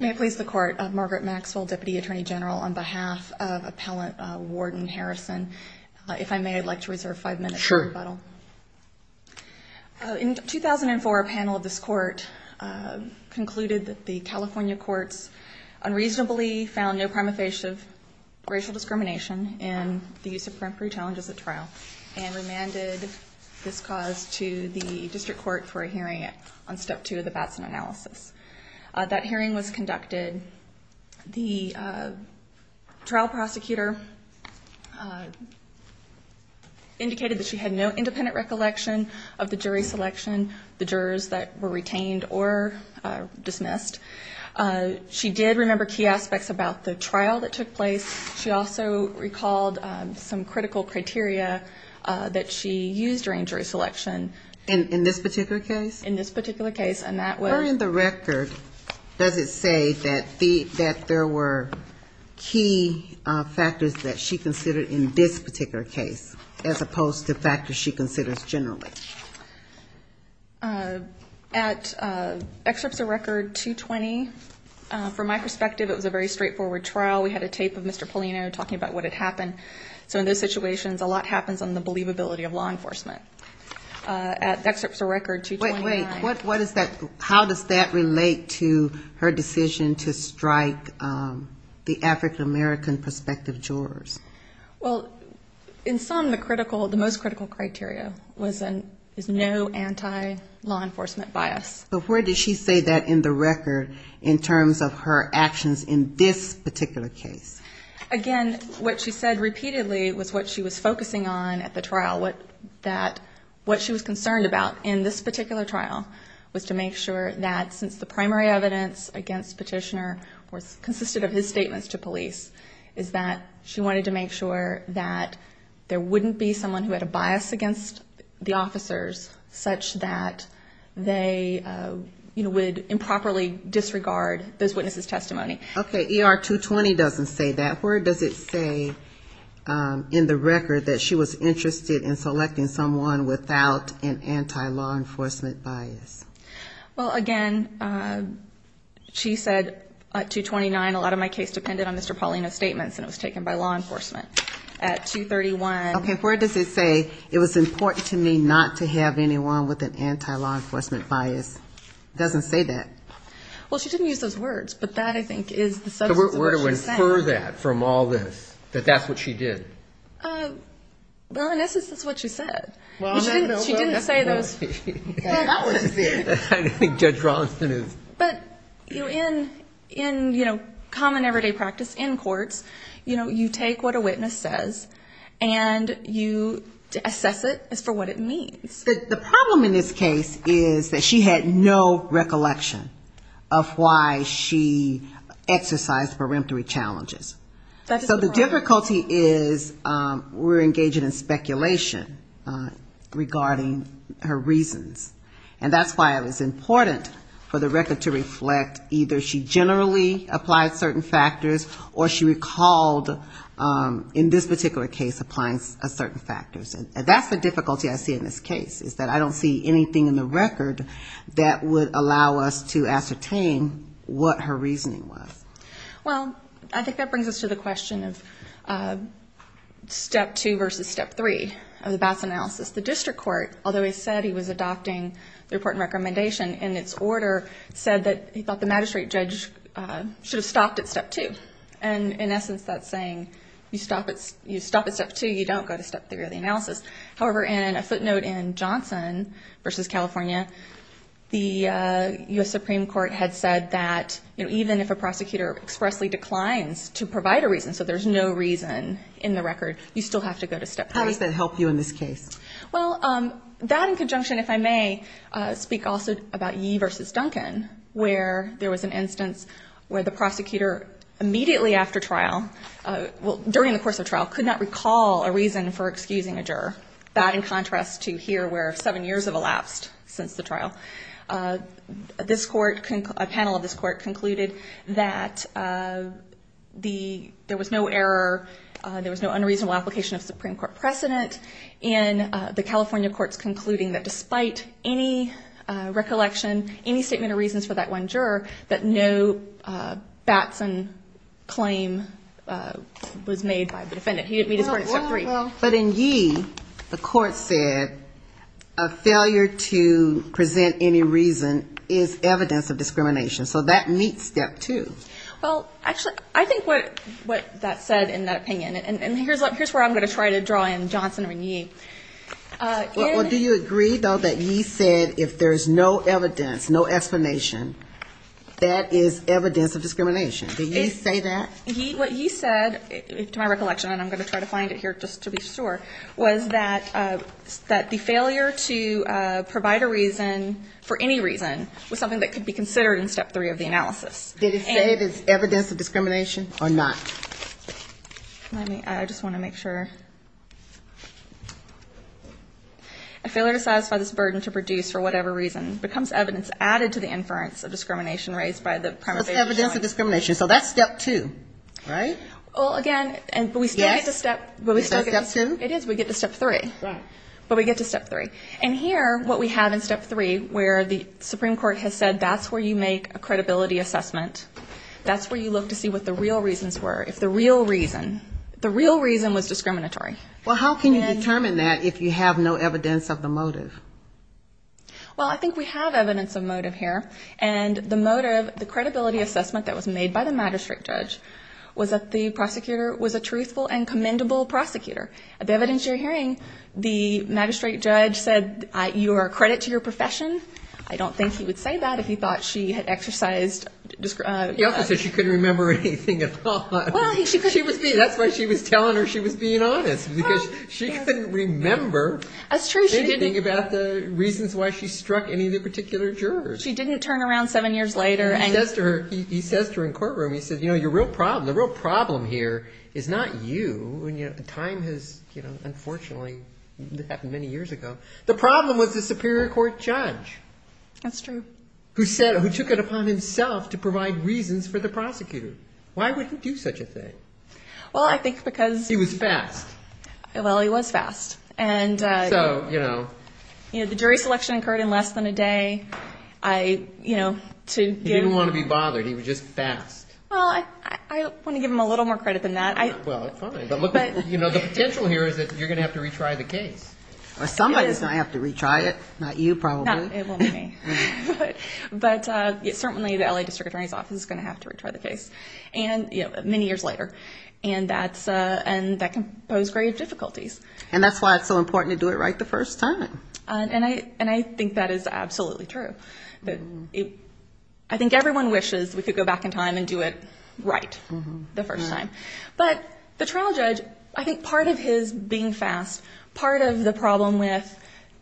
May I please the Court, Margaret Maxwell, Deputy Attorney General, on behalf of Appellant Warden Harrison, if I may, I'd like to reserve five minutes for rebuttal. Sure. In 2004, a panel of this Court concluded that the California courts unreasonably found no prima facie of racial discrimination in the use of print pre-challenges at trial and remanded this cause to the District Court for a hearing on step two of the Batson analysis. That hearing was conducted. The trial prosecutor indicated that she had no independent recollection of the jury selection, the jurors that were retained or dismissed. She did remember key aspects about the trial that took place. She also recalled some critical criteria that she used during jury selection. In this particular case? In this particular case. During the record, does it say that there were key factors that she considered in this particular case as opposed to factors she considers generally? At excerpts of record 220, from my perspective, it was a very straightforward trial. We had a tape of Mr. Paulino talking about what had happened. So in those situations, a lot happens on the believability of law enforcement. At excerpts of record 229. Wait, wait. What is that? How does that relate to her decision to strike the African-American prospective jurors? Well, in some, the most critical criteria was no anti-law enforcement bias. But where did she say that in the record in terms of her actions in this particular case? Again, what she said repeatedly was what she was focusing on at the trial. What she was concerned about in this particular trial was to make sure that since the primary evidence against Petitioner consisted of his statements to police, is that she wanted to make sure that there wouldn't be someone who had a bias against the officers such that Okay. ER 220 doesn't say that. Where does it say in the record that she was interested in selecting someone without an anti-law enforcement bias? Well, again, she said at 229, a lot of my case depended on Mr. Paulino's statements and it was taken by law enforcement. At 231. Okay. Where does it say, it was important to me not to have anyone with an anti-law enforcement bias? It doesn't say that. Well, she didn't use those words, but that I think is the substance of what she said. So where do we infer that from all this, that that's what she did? Well, in essence, that's what she said. She didn't say those. That's what she said. I don't think Judge Rollinson is... But in common everyday practice in courts, you take what a witness says and you assess it as for what it means. The problem in this case is that she had no recollection of why she exercised peremptory challenges. So the difficulty is we're engaging in speculation regarding her reasons. And that's why it was important for the record to reflect either she generally applied certain factors or she recalled, in this particular case, applying certain factors. And that's the difficulty I see in this case, is that I don't see anything in the record that would allow us to ascertain what her reasoning was. Well, I think that brings us to the question of step two versus step three of the BAS analysis. The district court, although it said he was adopting the report and recommendation in its order, said that he thought the magistrate judge should have stopped at step two. And in essence, that's saying you stop at step two, you don't go to step three of the analysis. However, in a footnote in Johnson v. California, the U.S. Supreme Court had said that even if a prosecutor expressly declines to provide a reason, so there's no reason in the record, you still have to go to step three. How does that help you in this case? Well, that in conjunction, if I may, speak also about Yee v. Duncan, where there was an instance where the prosecutor immediately after trial, well, during the course of trial, could not recall a reason for excusing a juror, that in contrast to here where seven years have elapsed since the trial. This court, a panel of this court concluded that there was no error, there was no unreasonable application of Supreme Court precedent, and the California courts concluding that despite any recollection, any statement of reasons for that one juror, that no Batson claim was made by the defendant. He didn't meet his court at step three. Well, but in Yee, the court said a failure to present any reason is evidence of discrimination, so that meets step two. Well, actually, I think what that said in that opinion, and here's where I'm going to try to draw in Johnson v. Yee. Well, do you agree, though, that Yee said if there's no evidence, no explanation, that is evidence of discrimination? Did Yee say that? What Yee said, to my recollection, and I'm going to try to find it here just to be sure, was that the failure to provide a reason for any reason was something that could be considered in step three of the analysis. Did he say it is evidence of discrimination or not? Let me, I just want to make sure. A failure to satisfy this burden to produce, for whatever reason, becomes evidence added to the inference of discrimination raised by the prima facie jury. So it's evidence of discrimination. So that's step two. Right? Well, again, but we still get to step. Yes. But we still get to step. Is that step two? It is. We get to step three. Right. But we get to step three. And here, what we have in step three, where the Supreme Court has said that's where you make a credibility assessment. That's where you look to see what the real reasons were. If the real reason, the real reason was discriminatory. Well, how can you determine that if you have no evidence of the motive? Well, I think we have evidence of motive here. And the motive, the credibility assessment that was made by the magistrate judge, was that the prosecutor was a truthful and commendable prosecutor. The evidence you're hearing, the magistrate judge said you are a credit to your profession. I don't think he would say that if he thought she had exercised... He also said she couldn't remember anything at all. Well, he... She was being... That's why she was telling her she was being honest. Because she couldn't remember... That's true, she didn't... Anything about the reasons why she struck any of the particular jurors. She didn't turn around seven years later and... He says to her, he says to her in courtroom, he says, you know, your real problem, the real problem here is not you, and time has, unfortunately, happened many years ago. The problem was the superior court judge. That's true. Who said, who took it upon himself to provide reasons for the prosecutor. Why would he do such a thing? Well, I think because... He was fast. Well, he was fast. And... So, you know... You know, the jury selection occurred in less than a day. I, you know, to... He didn't want to be bothered. He was just fast. Well, I want to give him a little more credit than that. Well, fine. But look, you know, the potential here is that you're going to have to retry the case. Or somebody's going to have to retry it. Not you, probably. No, it won't be me. But, certainly, the L.A. District Attorney's Office is going to have to retry the case. And, you know, many years later. And that can pose grave difficulties. And that's why it's so important to do it right the first time. And I think that is absolutely true. I think everyone wishes we could go back in time and do it right the first time. But the trial judge, I think part of his being fast, part of the problem with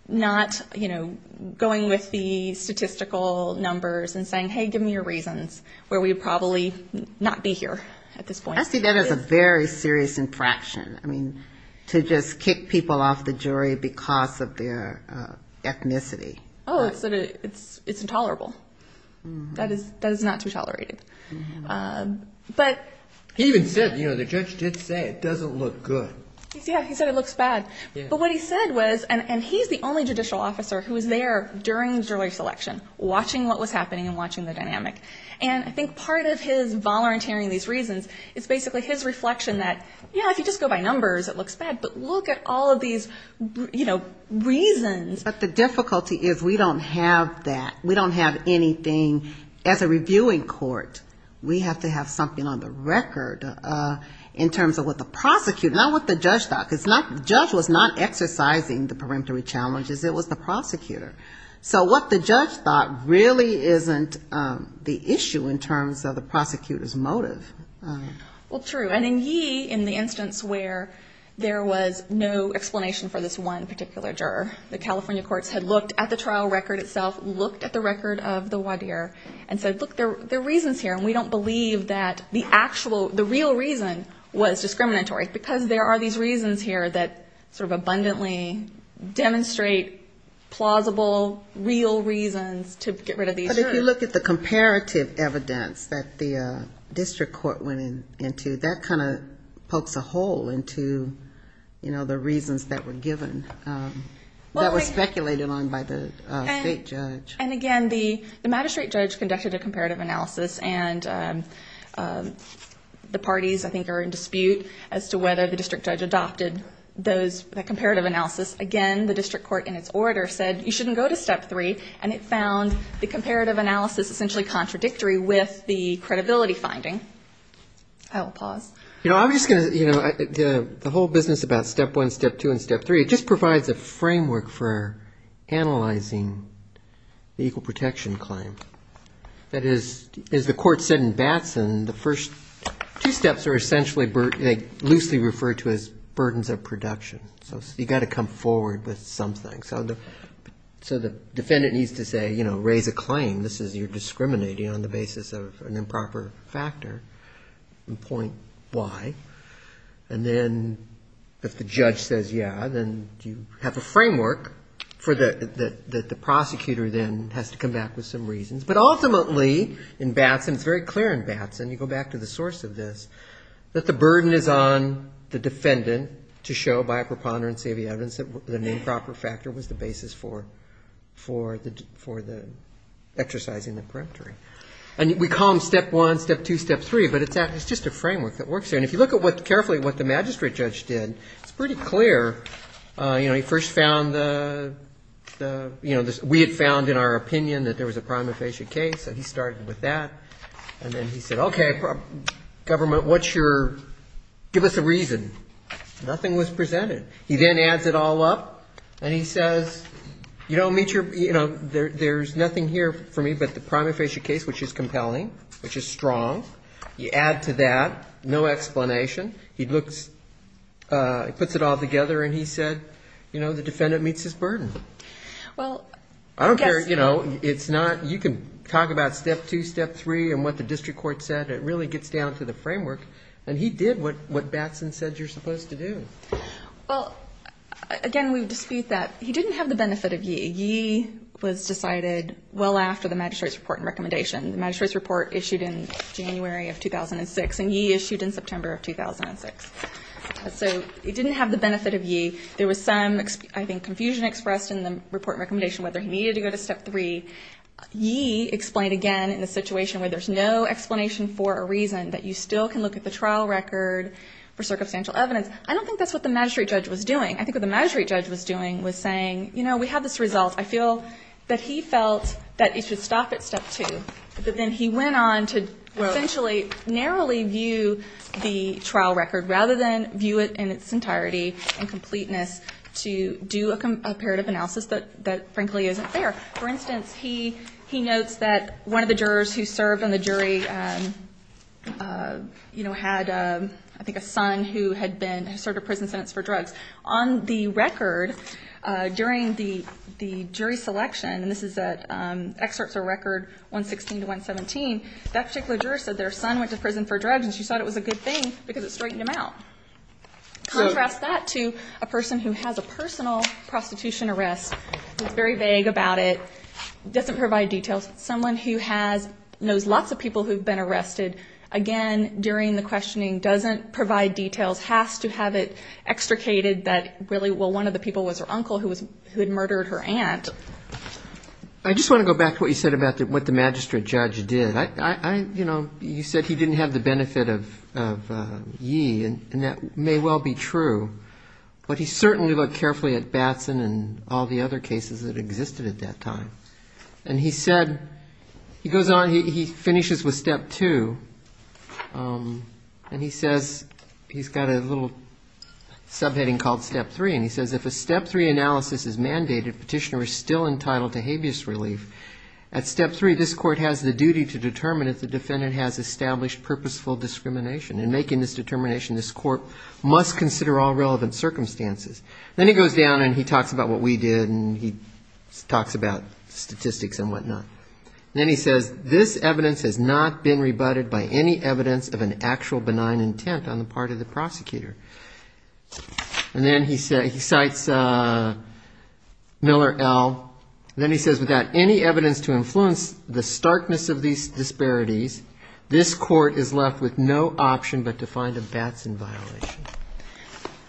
not, you know, going with the statistical numbers and saying, hey, give me your reasons, where we'd probably not be here at this point. I see that as a very serious infraction. I mean, to just kick people off the jury because of their ethnicity. Oh, it's sort of... It's intolerable. That is... That is not to be tolerated. But... He even said, you know, the judge did say it doesn't look good. Yeah, he said it looks bad. But what he said was, and he's the only judicial officer who was there during the jury selection, watching what was happening and watching the dynamic. And I think part of his volunteering these reasons is basically his reflection that, you know, if you just go by numbers, it looks bad. But look at all of these, you know, reasons. But the difficulty is we don't have that. We don't have anything as a reviewing court. We have to have something on the record in terms of what the prosecutor, not what the judge thought. Because the judge was not exercising the peremptory challenges, it was the prosecutor. So what the judge thought really isn't the issue in terms of the prosecutor's motive. Well, true. And in Yee, in the instance where there was no explanation for this one particular juror, the California courts had looked at the trial record itself, looked at the record of the And we don't believe that the actual, the real reason was discriminatory because there are these reasons here that sort of abundantly demonstrate plausible, real reasons to get rid of these jurors. But if you look at the comparative evidence that the district court went into, that kind of pokes a hole into, you know, the reasons that were given, that was speculated on by the state judge. And again, the magistrate judge conducted a comparative analysis and the parties I think are in dispute as to whether the district judge adopted those, that comparative analysis. Again, the district court in its order said, you shouldn't go to step three. And it found the comparative analysis essentially contradictory with the credibility finding. I will pause. You know, I'm just going to, you know, the whole business about step one, step two and step three, it just provides a framework for analyzing the equal protection claim. That is, as the court said in Batson, the first two steps are essentially loosely referred to as burdens of production. So you've got to come forward with something. So the defendant needs to say, you know, raise a claim. This is, you're discriminating on the basis of an improper factor in point Y. And then if the judge says, yeah, then you have a framework for the, that the prosecutor then has to come back with some reasons. But ultimately in Batson, it's very clear in Batson, you go back to the source of this, that the burden is on the defendant to show by a preponderance of the evidence that the improper factor was the basis for, for the, for the exercising the peremptory. And we call them step one, step two, step three, but it's just a framework that works there. And if you look at what, carefully what the magistrate judge did, it's pretty clear, you know, he first found the, the, you know, we had found in our opinion that there was a prima facie case. So he started with that and then he said, okay, government, what's your, give us a reason. Nothing was presented. He then adds it all up and he says, you don't meet your, you know, there, there's nothing here for me but the prima facie case, which is compelling, which is strong. You add to that, no explanation. He looks, puts it all together and he said, you know, the defendant meets his burden. Well, I don't care, you know, it's not, you can talk about step two, step three and what the district court said. It really gets down to the framework and he did what, what Batson said you're supposed to do. Well, again, we dispute that. He didn't have the benefit of ye, ye was decided well after the magistrate's report and recommendation. The magistrate's report issued in January of 2006 and ye issued in September of 2006. So he didn't have the benefit of ye. There was some, I think, confusion expressed in the report recommendation whether he needed to go to step three. Ye explained again in a situation where there's no explanation for a reason that you still can look at the trial record for circumstantial evidence. I don't think that's what the magistrate judge was doing. I think what the magistrate judge was doing was saying, you know, we have this result. I feel that he felt that he should stop at step two, but then he went on to essentially narrowly view the trial record rather than view it in its entirety and completeness to do a comparative analysis that, that frankly isn't fair. For instance, he, he notes that one of the jurors who served on the jury, um, uh, you know, had, um, I think a son who had been, who served a prison sentence for drugs. On the record, uh, during the, the jury selection, and this is at, um, excerpts or record 116 to 117, that particular juror said their son went to prison for drugs and she thought it was a good thing because it straightened him out. Contrast that to a person who has a personal prostitution arrest, it's very vague about it, doesn't provide details. Someone who has, knows lots of people who've been arrested, again, during the questioning doesn't provide details, has to have it extricated that really, well, one of the people was her uncle who was, who had murdered her aunt. I just want to go back to what you said about what the magistrate judge did. I, I, I, you know, you said he didn't have the benefit of, of, uh, ye, and that may well be true, but he certainly looked carefully at Batson and all the other cases that existed at that time. And he said, he goes on, he finishes with step two, um, and he says, he's got a little subheading called step three. And he says, if a step three analysis is mandated, petitioner is still entitled to habeas relief. At step three, this court has the duty to determine if the defendant has established purposeful discrimination. In making this determination, this court must consider all relevant circumstances. Then he goes down and he talks about what we did and he talks about statistics and whatnot. Then he says, this evidence has not been rebutted by any evidence of an actual benign intent on the part of the prosecutor. And then he said, he cites, uh, Miller L. Then he says, without any evidence to influence the starkness of these disparities, this court is left with no option, but to find a Batson violation.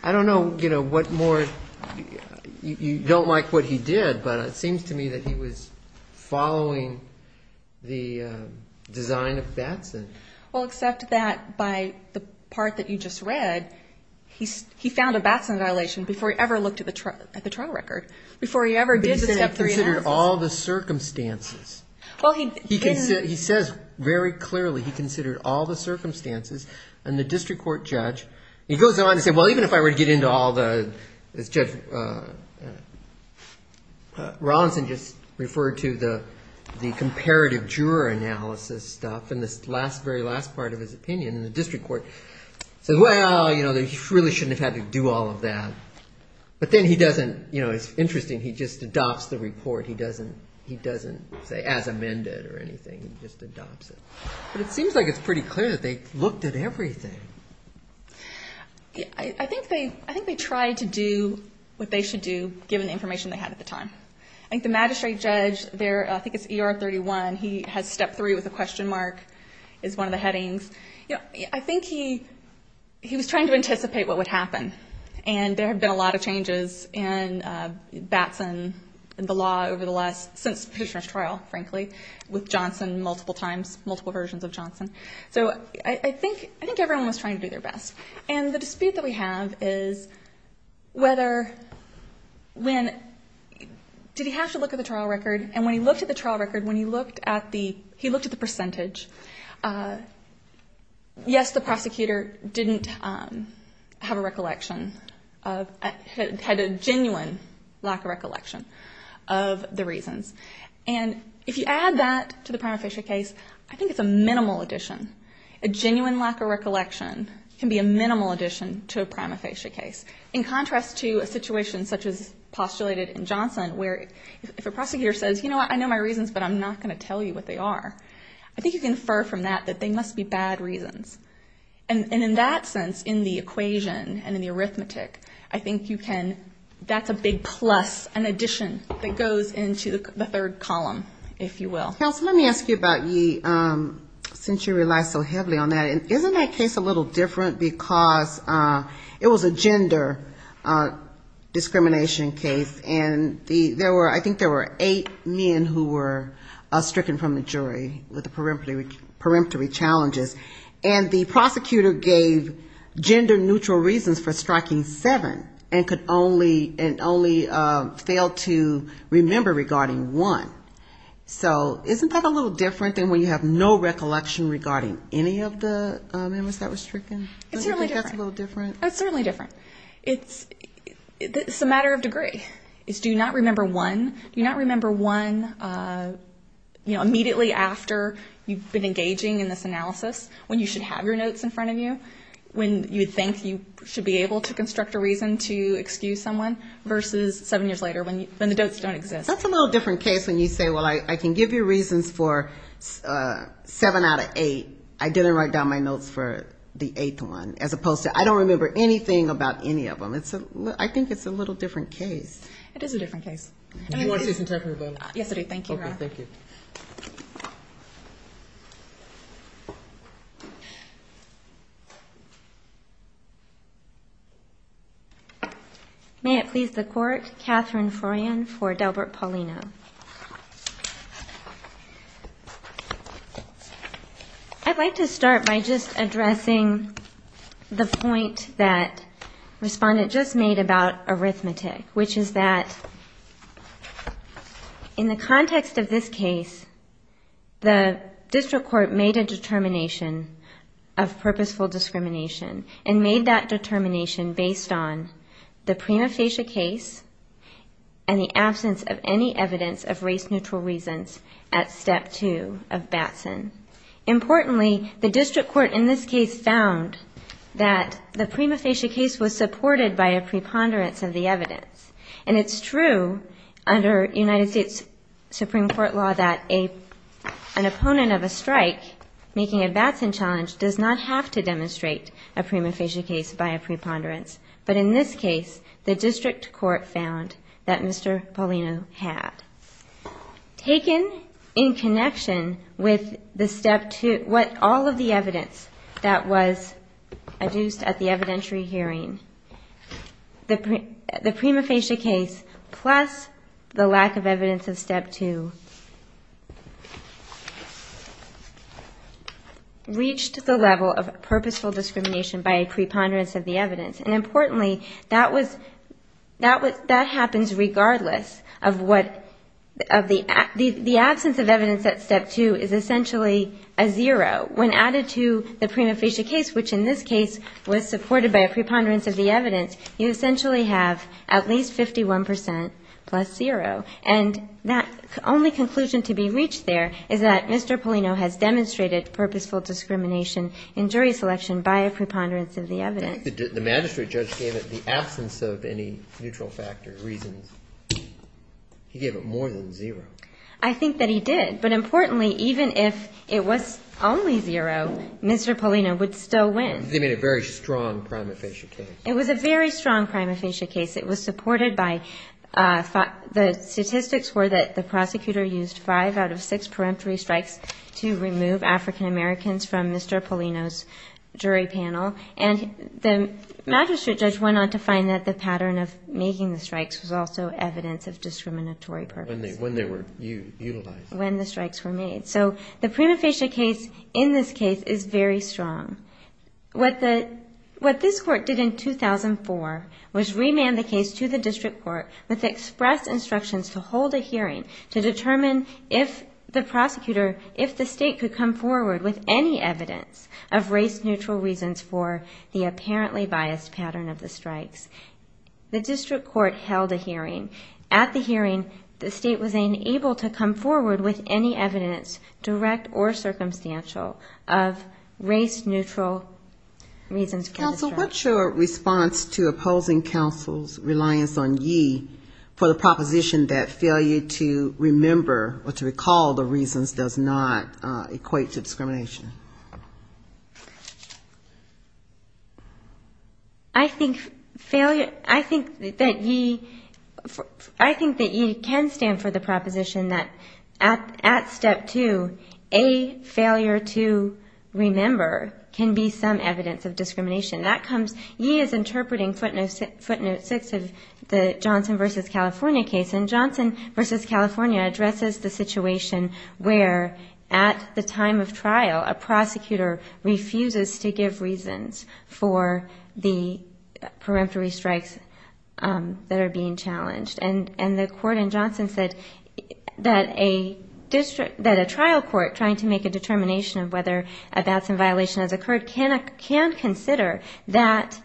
I don't know, you know, what more, you don't like what he did, but it seems to me that he was following the, uh, design of Batson. Well, except that by the part that you just read, he, he found a Batson violation before he ever looked at the trial record, before he ever did the step three analysis. But he said he considered all the circumstances. Well, he, he says very clearly, he considered all the circumstances and the district court judge, he goes on to say, well, even if I were to get into all the, this judge, uh, uh, uh, Rawlinson just referred to the, the comparative juror analysis stuff. And this last, very last part of his opinion in the district court says, well, you know, that he really shouldn't have had to do all of that. But then he doesn't, you know, it's interesting. He just adopts the report. He doesn't, he doesn't say as amended or anything. He just adopts it. But it seems like it's pretty clear that they looked at everything. I think they, I think they tried to do what they should do given the information they had at the time. I think the magistrate judge there, I think it's ER 31. He has step three with a question mark is one of the headings. You know, I think he, he was trying to anticipate what would happen and there had been a lot of changes in Batson and the law over the last, since Petitioner's So I think, I think everyone was trying to do their best. And the dispute that we have is whether, when did he have to look at the trial record? And when he looked at the trial record, when he looked at the, he looked at the percentage, uh, yes, the prosecutor didn't, um, have a recollection of, had a genuine lack of recollection of the reasons. And if you add that to the prima facie case, I think it's a minimal addition. A genuine lack of recollection can be a minimal addition to a prima facie case. In contrast to a situation such as postulated in Johnson, where if a prosecutor says, you know what, I know my reasons, but I'm not going to tell you what they are, I think you can infer from that, that they must be bad reasons. And in that sense, in the equation and in the arithmetic, I think you can, that's a big plus, an addition that goes into the third column, if you will. Counsel, let me ask you about Yi, um, since you rely so heavily on that, isn't that case a little different because, uh, it was a gender, uh, discrimination case and the, there were, I think there were eight men who were, uh, stricken from the jury with the peremptory, peremptory challenges. And the prosecutor gave gender neutral reasons for striking seven and could only, and only, uh, failed to remember regarding one. So isn't that a little different than when you have no recollection regarding any of the, um, members that were stricken? I think that's a little different. It's certainly different. It's, it's a matter of degree. It's do not remember one, do not remember one, uh, you know, immediately after you've been engaging in this analysis, when you should have your notes in front of you, when you would think you should be able to construct a reason to excuse someone versus seven years later when the notes don't exist. That's a little different case. When you say, well, I can give you reasons for, uh, seven out of eight. I didn't write down my notes for the eighth one, as opposed to, I don't remember anything about any of them. It's a, I think it's a little different case. It is a different case. Yes, it is. Thank you. Okay. Thank you. May it please the court, Catherine Froyan for Delbert Paulino. I'd like to start by just addressing the point that respondent just made about arithmetic, which is that in the context of this case, the district court made a determination of purposeful discrimination and made that determination based on the prima facie case and the absence of any evidence of race neutral reasons at step two of Batson. Importantly, the district court in this case found that the prima facie case was supported by a preponderance of the evidence. And it's true under United States Supreme court law that a, an opponent of a strike making a Batson challenge does not have to demonstrate a prima facie case by a preponderance of the evidence. In this case, the district court found that Mr. Paulino had taken in connection with the step two, what all of the evidence that was adduced at the evidentiary hearing, the prima facie case plus the lack of evidence of step two reached the level of purposeful discrimination by a preponderance of the evidence. That was, that was, that happens regardless of what, of the absence of evidence at step two is essentially a zero. When added to the prima facie case, which in this case was supported by a preponderance of the evidence, you essentially have at least 51% plus zero. And that only conclusion to be reached there is that Mr. Paulino has demonstrated purposeful discrimination in jury selection by a preponderance of the evidence. The magistrate judge gave it the absence of any neutral factor reasons. He gave it more than zero. I think that he did. But importantly, even if it was only zero, Mr. Paulino would still win. They made a very strong prima facie case. It was a very strong prima facie case. It was supported by, the statistics were that the prosecutor used five out of six peremptory strikes to remove African Americans from Mr. Paulino's jury panel. And the magistrate judge went on to find that the pattern of making the strikes was also evidence of discriminatory purpose. When they were utilized. When the strikes were made. So the prima facie case in this case is very strong. What the, what this court did in 2004 was remand the case to the district court with expressed instructions to hold a hearing to determine if the prosecutor, if the state could come forward with any evidence of race neutral reasons for the apparently biased pattern of the strikes. The district court held a hearing. At the hearing, the state was unable to come forward with any evidence, direct or circumstantial of race neutral reasons for the strikes. What's your response to opposing counsel's reliance on ye for the proposition that failure to remember or to recall the reasons does not equate to discrimination? I think failure, I think that ye, I think that ye can stand for the proposition that at, at step two, a failure to remember can be some evidence of discrimination. That comes, ye is interpreting footnotes, footnote six of the Johnson versus California case and Johnson versus California addresses the situation where at the time of trial, a prosecutor refuses to give reasons for the peremptory strikes that are being challenged. And, and the court in Johnson said that a district, that a trial court trying to make a determination of whether a bouts and violation has occurred can, can consider that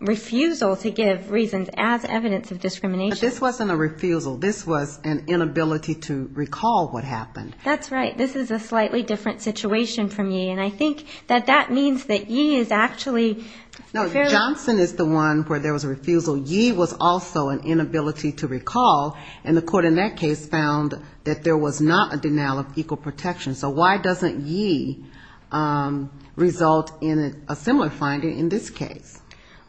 refusal to give reasons as evidence of discrimination. This wasn't a refusal. This was an inability to recall what happened. That's right. This is a slightly different situation for me. And I think that that means that ye is actually fairly No, Johnson is the one where there was a refusal. Ye was also an inability to recall. And the court in that case found that there was not a denial of equal protection. So why doesn't ye result in a similar finding in this case?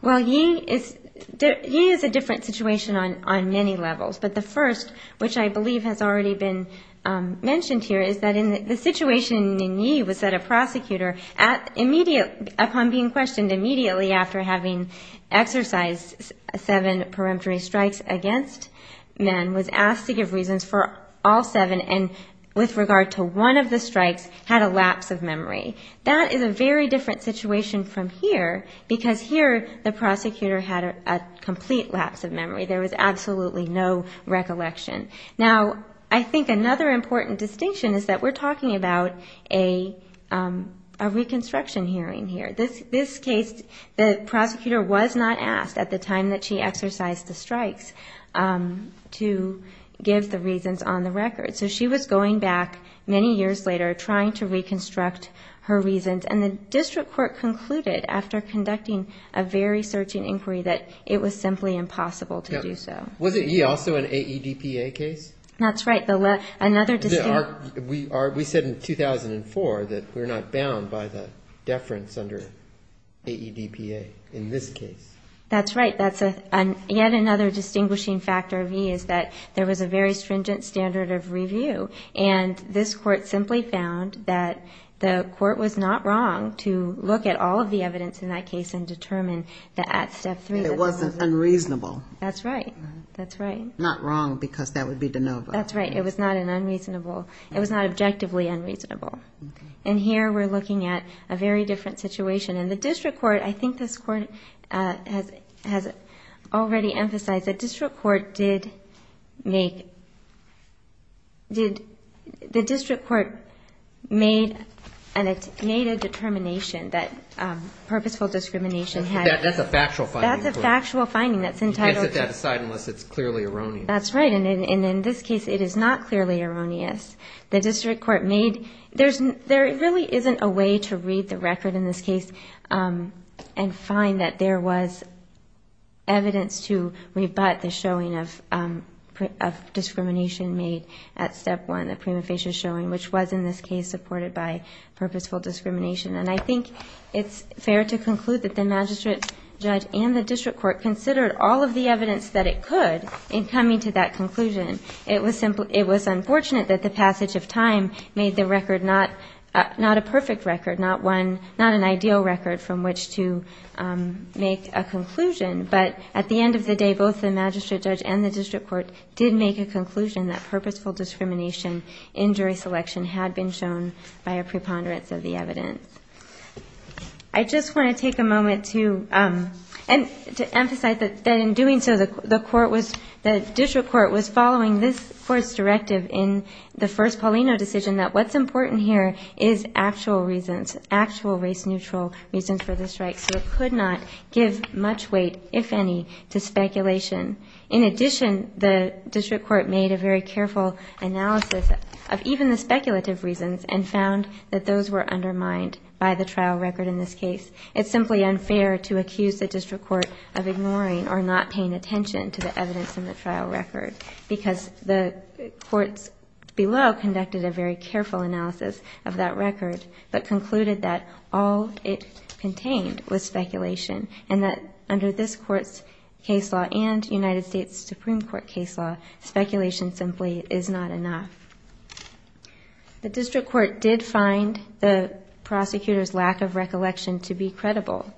Well, ye is, ye is a different situation on, on many levels. But the first, which I believe has already been mentioned here, is that the situation in ye was that a prosecutor at immediate, upon being questioned immediately after having exercised seven peremptory strikes against men was asked to give reasons for all seven. And with regard to one of the strikes had a lapse of memory. That is a very different situation from here because here the prosecutor had a complete lapse of memory. There was absolutely no recollection. Now, I think another important distinction is that we're talking about a, a reconstruction hearing here. This, this case, the prosecutor was not asked at the time that she exercised the strikes to give the reasons on the record. So she was going back many years later, trying to reconstruct her reasons. And the district court concluded after conducting a very searching inquiry that it was simply impossible to do so. Was it ye also an AEDPA case? That's right. The, another, we are, we said in 2004 that we're not bound by the deference under AEDPA in this case. That's right. That's a, yet another distinguishing factor of ye is that there was a very stringent standard of review. And this court simply found that the court was not wrong to look at all of the evidence in that case and determine that at step three, it wasn't unreasonable. That's right. That's right. Not wrong because that would be de novo. That's right. It was not an unreasonable. It was not objectively unreasonable. And here we're looking at a very different situation. And the district court, I think this court has, has already emphasized that district court did make, did the district court made an, made a determination that purposeful discrimination had, that's a factual finding, that's a factual finding. You can't set that aside unless it's clearly erroneous. That's right. And in this case, it is not clearly erroneous. The district court made, there's, there really isn't a way to read the record in this case and find that there was evidence to rebut the showing of, of discrimination made at step one, the prima facie showing, which was in this case supported by purposeful discrimination. And I think it's fair to conclude that the magistrate judge and the district court considered all of the evidence that it could in coming to that conclusion. It was simple. It was unfortunate that the passage of time made the record not, not a perfect record, not one, not an ideal record from which to make a conclusion. But at the end of the day, both the magistrate judge and the district court did make a conclusion that purposeful discrimination in jury selection had been shown by a preponderance of the evidence. I just want to take a moment to, um, and to emphasize that, that in doing so, the court was, the district court was following this first directive in the first Paulino decision that what's important here is actual reasons, actual race neutral reasons for the strike. So it could not give much weight, if any, to speculation. In addition, the district court made a very careful analysis of even the by the trial record in this case. It's simply unfair to accuse the district court of ignoring or not paying attention to the evidence in the trial record because the courts below conducted a very careful analysis of that record, but concluded that all it contained was speculation and that under this court's case law and United States Supreme Court case law, speculation simply is not enough. The district court did find the prosecutor's lack of recollection to be credible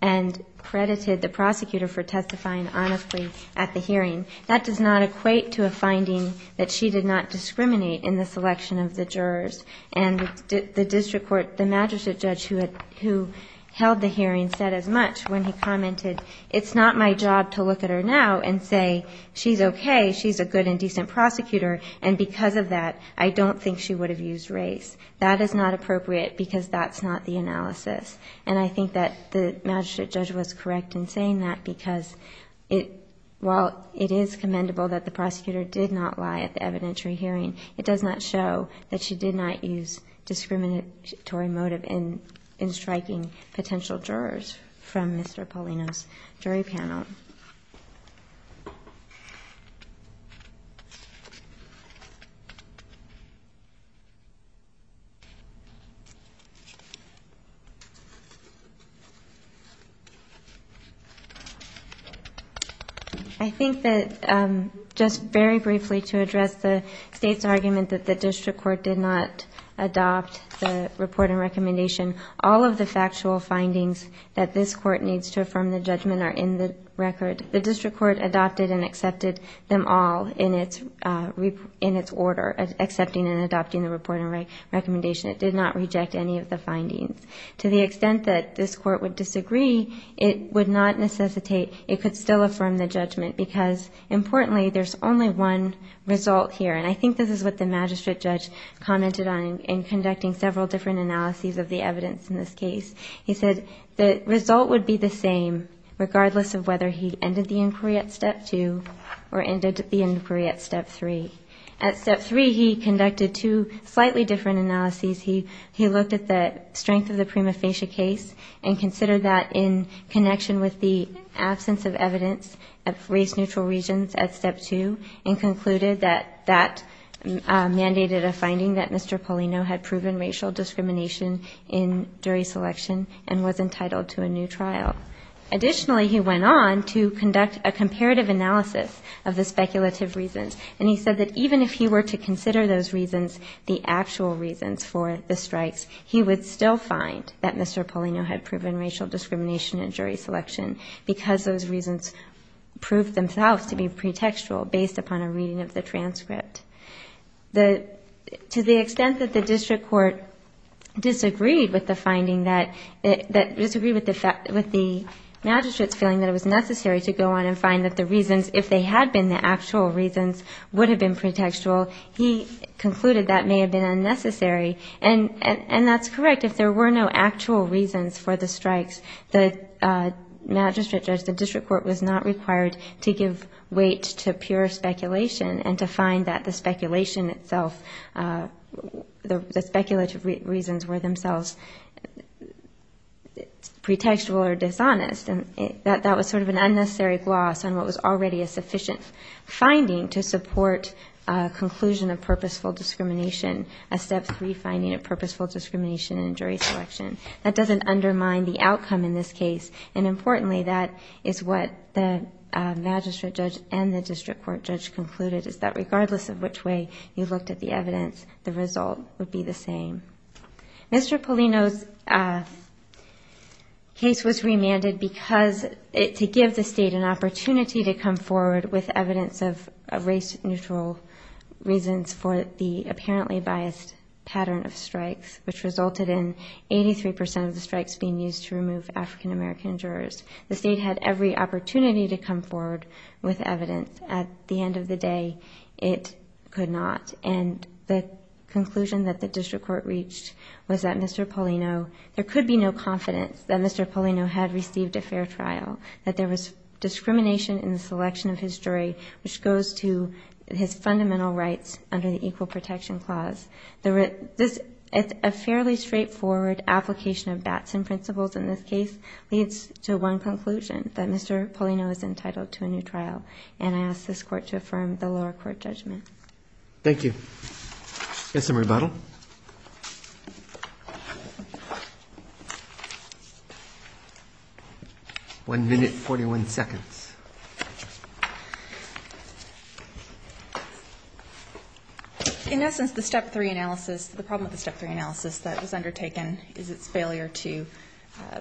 and credited the prosecutor for testifying honestly at the hearing. That does not equate to a finding that she did not discriminate in the selection of the jurors. And the district court, the magistrate judge who had, who held the hearing said as much when he commented, it's not my job to look at her now and say, she's okay, she's a good and decent prosecutor. And because of that, I don't think she would have used race. That is not appropriate because that's not the analysis. And I think that the magistrate judge was correct in saying that because it, while it is commendable that the prosecutor did not lie at the evidentiary hearing, it does not show that she did not use discriminatory motive in, in striking potential jurors from Mr. Polino's jury panel. I think that, um, just very briefly to address the state's argument that the district court did not adopt the report and recommendation, all of the factual findings that this court needs to affirm the judgment are in the record. The district court adopted and accepted them all in its, uh, report. In its order, accepting and adopting the report and recommendation. It did not reject any of the findings to the extent that this court would disagree. It would not necessitate, it could still affirm the judgment because importantly, there's only one result here. And I think this is what the magistrate judge commented on in conducting several different analyses of the evidence in this case. He said the result would be the same regardless of whether he ended the inquiry at step two or ended the inquiry at step three. At step three, he conducted two slightly different analyses. He, he looked at the strength of the prima facie case and considered that in connection with the absence of evidence of race neutral regions at step two and concluded that that, um, mandated a finding that Mr. Polino had proven racial discrimination in jury selection and was entitled to a new trial. Additionally, he went on to conduct a comparative analysis of the speculative reasons, and he said that even if he were to consider those reasons, the actual reasons for the strikes, he would still find that Mr. Polino had proven racial discrimination in jury selection because those reasons proved themselves to be pretextual based upon a reading of the transcript. The, to the extent that the district court disagreed with the finding that, that disagreed with the fact, with the magistrate's feeling that it was necessary to go on and find that the reasons, if they had been the actual reasons, would have been pretextual, he concluded that may have been unnecessary. And, and that's correct. If there were no actual reasons for the strikes, the magistrate judge, the district court was not required to give weight to pure speculation and to find that the speculation itself, uh, the speculative reasons were themselves pretextual or unnecessary gloss on what was already a sufficient finding to support a conclusion of purposeful discrimination, a step three finding of purposeful discrimination in jury selection. That doesn't undermine the outcome in this case. And importantly, that is what the magistrate judge and the district court judge concluded is that regardless of which way you looked at the evidence, the result would be the same. Mr. Polino's, uh, case was remanded because it, to give the state an opportunity to come forward with evidence of a race neutral reasons for the apparently biased pattern of strikes, which resulted in 83% of the strikes being used to remove African-American jurors. The state had every opportunity to come forward with evidence. At the end of the day, it could not. And the conclusion that the district court reached was that Mr. Polino, there could be no confidence that Mr. Polino had received a fair trial, that there was discrimination in the selection of his jury, which goes to his fundamental rights under the equal protection clause. The, this is a fairly straightforward application of Batson principles in this case leads to one conclusion that Mr. Polino is entitled to a new trial. And I asked this court to affirm the lower court judgment. Thank you. Yes. Some rebuttal. One minute, 41 seconds. In essence, the step three analysis, the problem with the step three analysis that was undertaken is its failure to, uh,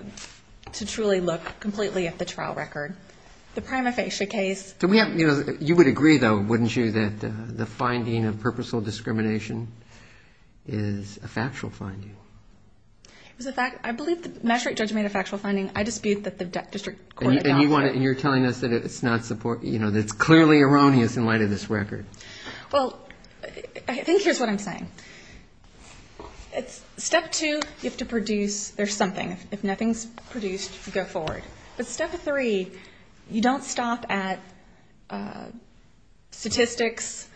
to truly look completely at the trial record, the prima facie case. Do we have, you know, you would agree though. Wouldn't you that, uh, the finding of purposeful discrimination is a factual finding. It was a fact. I believe the magistrate judge made a factual finding. I dispute that the district court. And you want it. And you're telling us that it's not support, you know, that it's clearly erroneous in light of this record. Well, I think here's what I'm saying. It's step two. You have to produce, there's something if nothing's produced to go forward, but step three, you don't stop at, uh, statistics,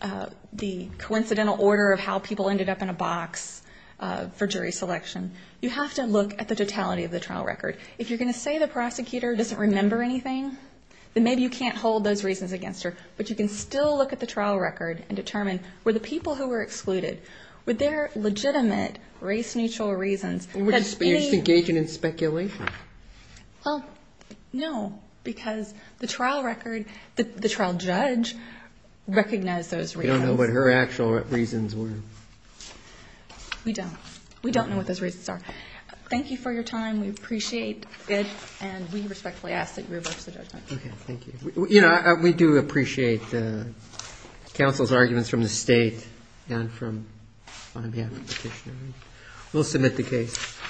uh, the coincidental order of how people ended up in a box, uh, for jury selection. You have to look at the totality of the trial record. If you're going to say the prosecutor doesn't remember anything, then maybe you can't hold those reasons against her, but you can still look at the trial record and determine where the people who were excluded, were there legitimate race neutral reasons? Were you just engaging in speculation? Well, no, because the trial record, the trial judge recognized those reasons. You don't know what her actual reasons were. We don't, we don't know what those reasons are. Thank you for your time. We appreciate it. And we respectfully ask that you revert to the judgment. Okay. Thank you. We, you know, we do appreciate the counsel's arguments from the state and from, on behalf of the petitioner. We'll submit the case.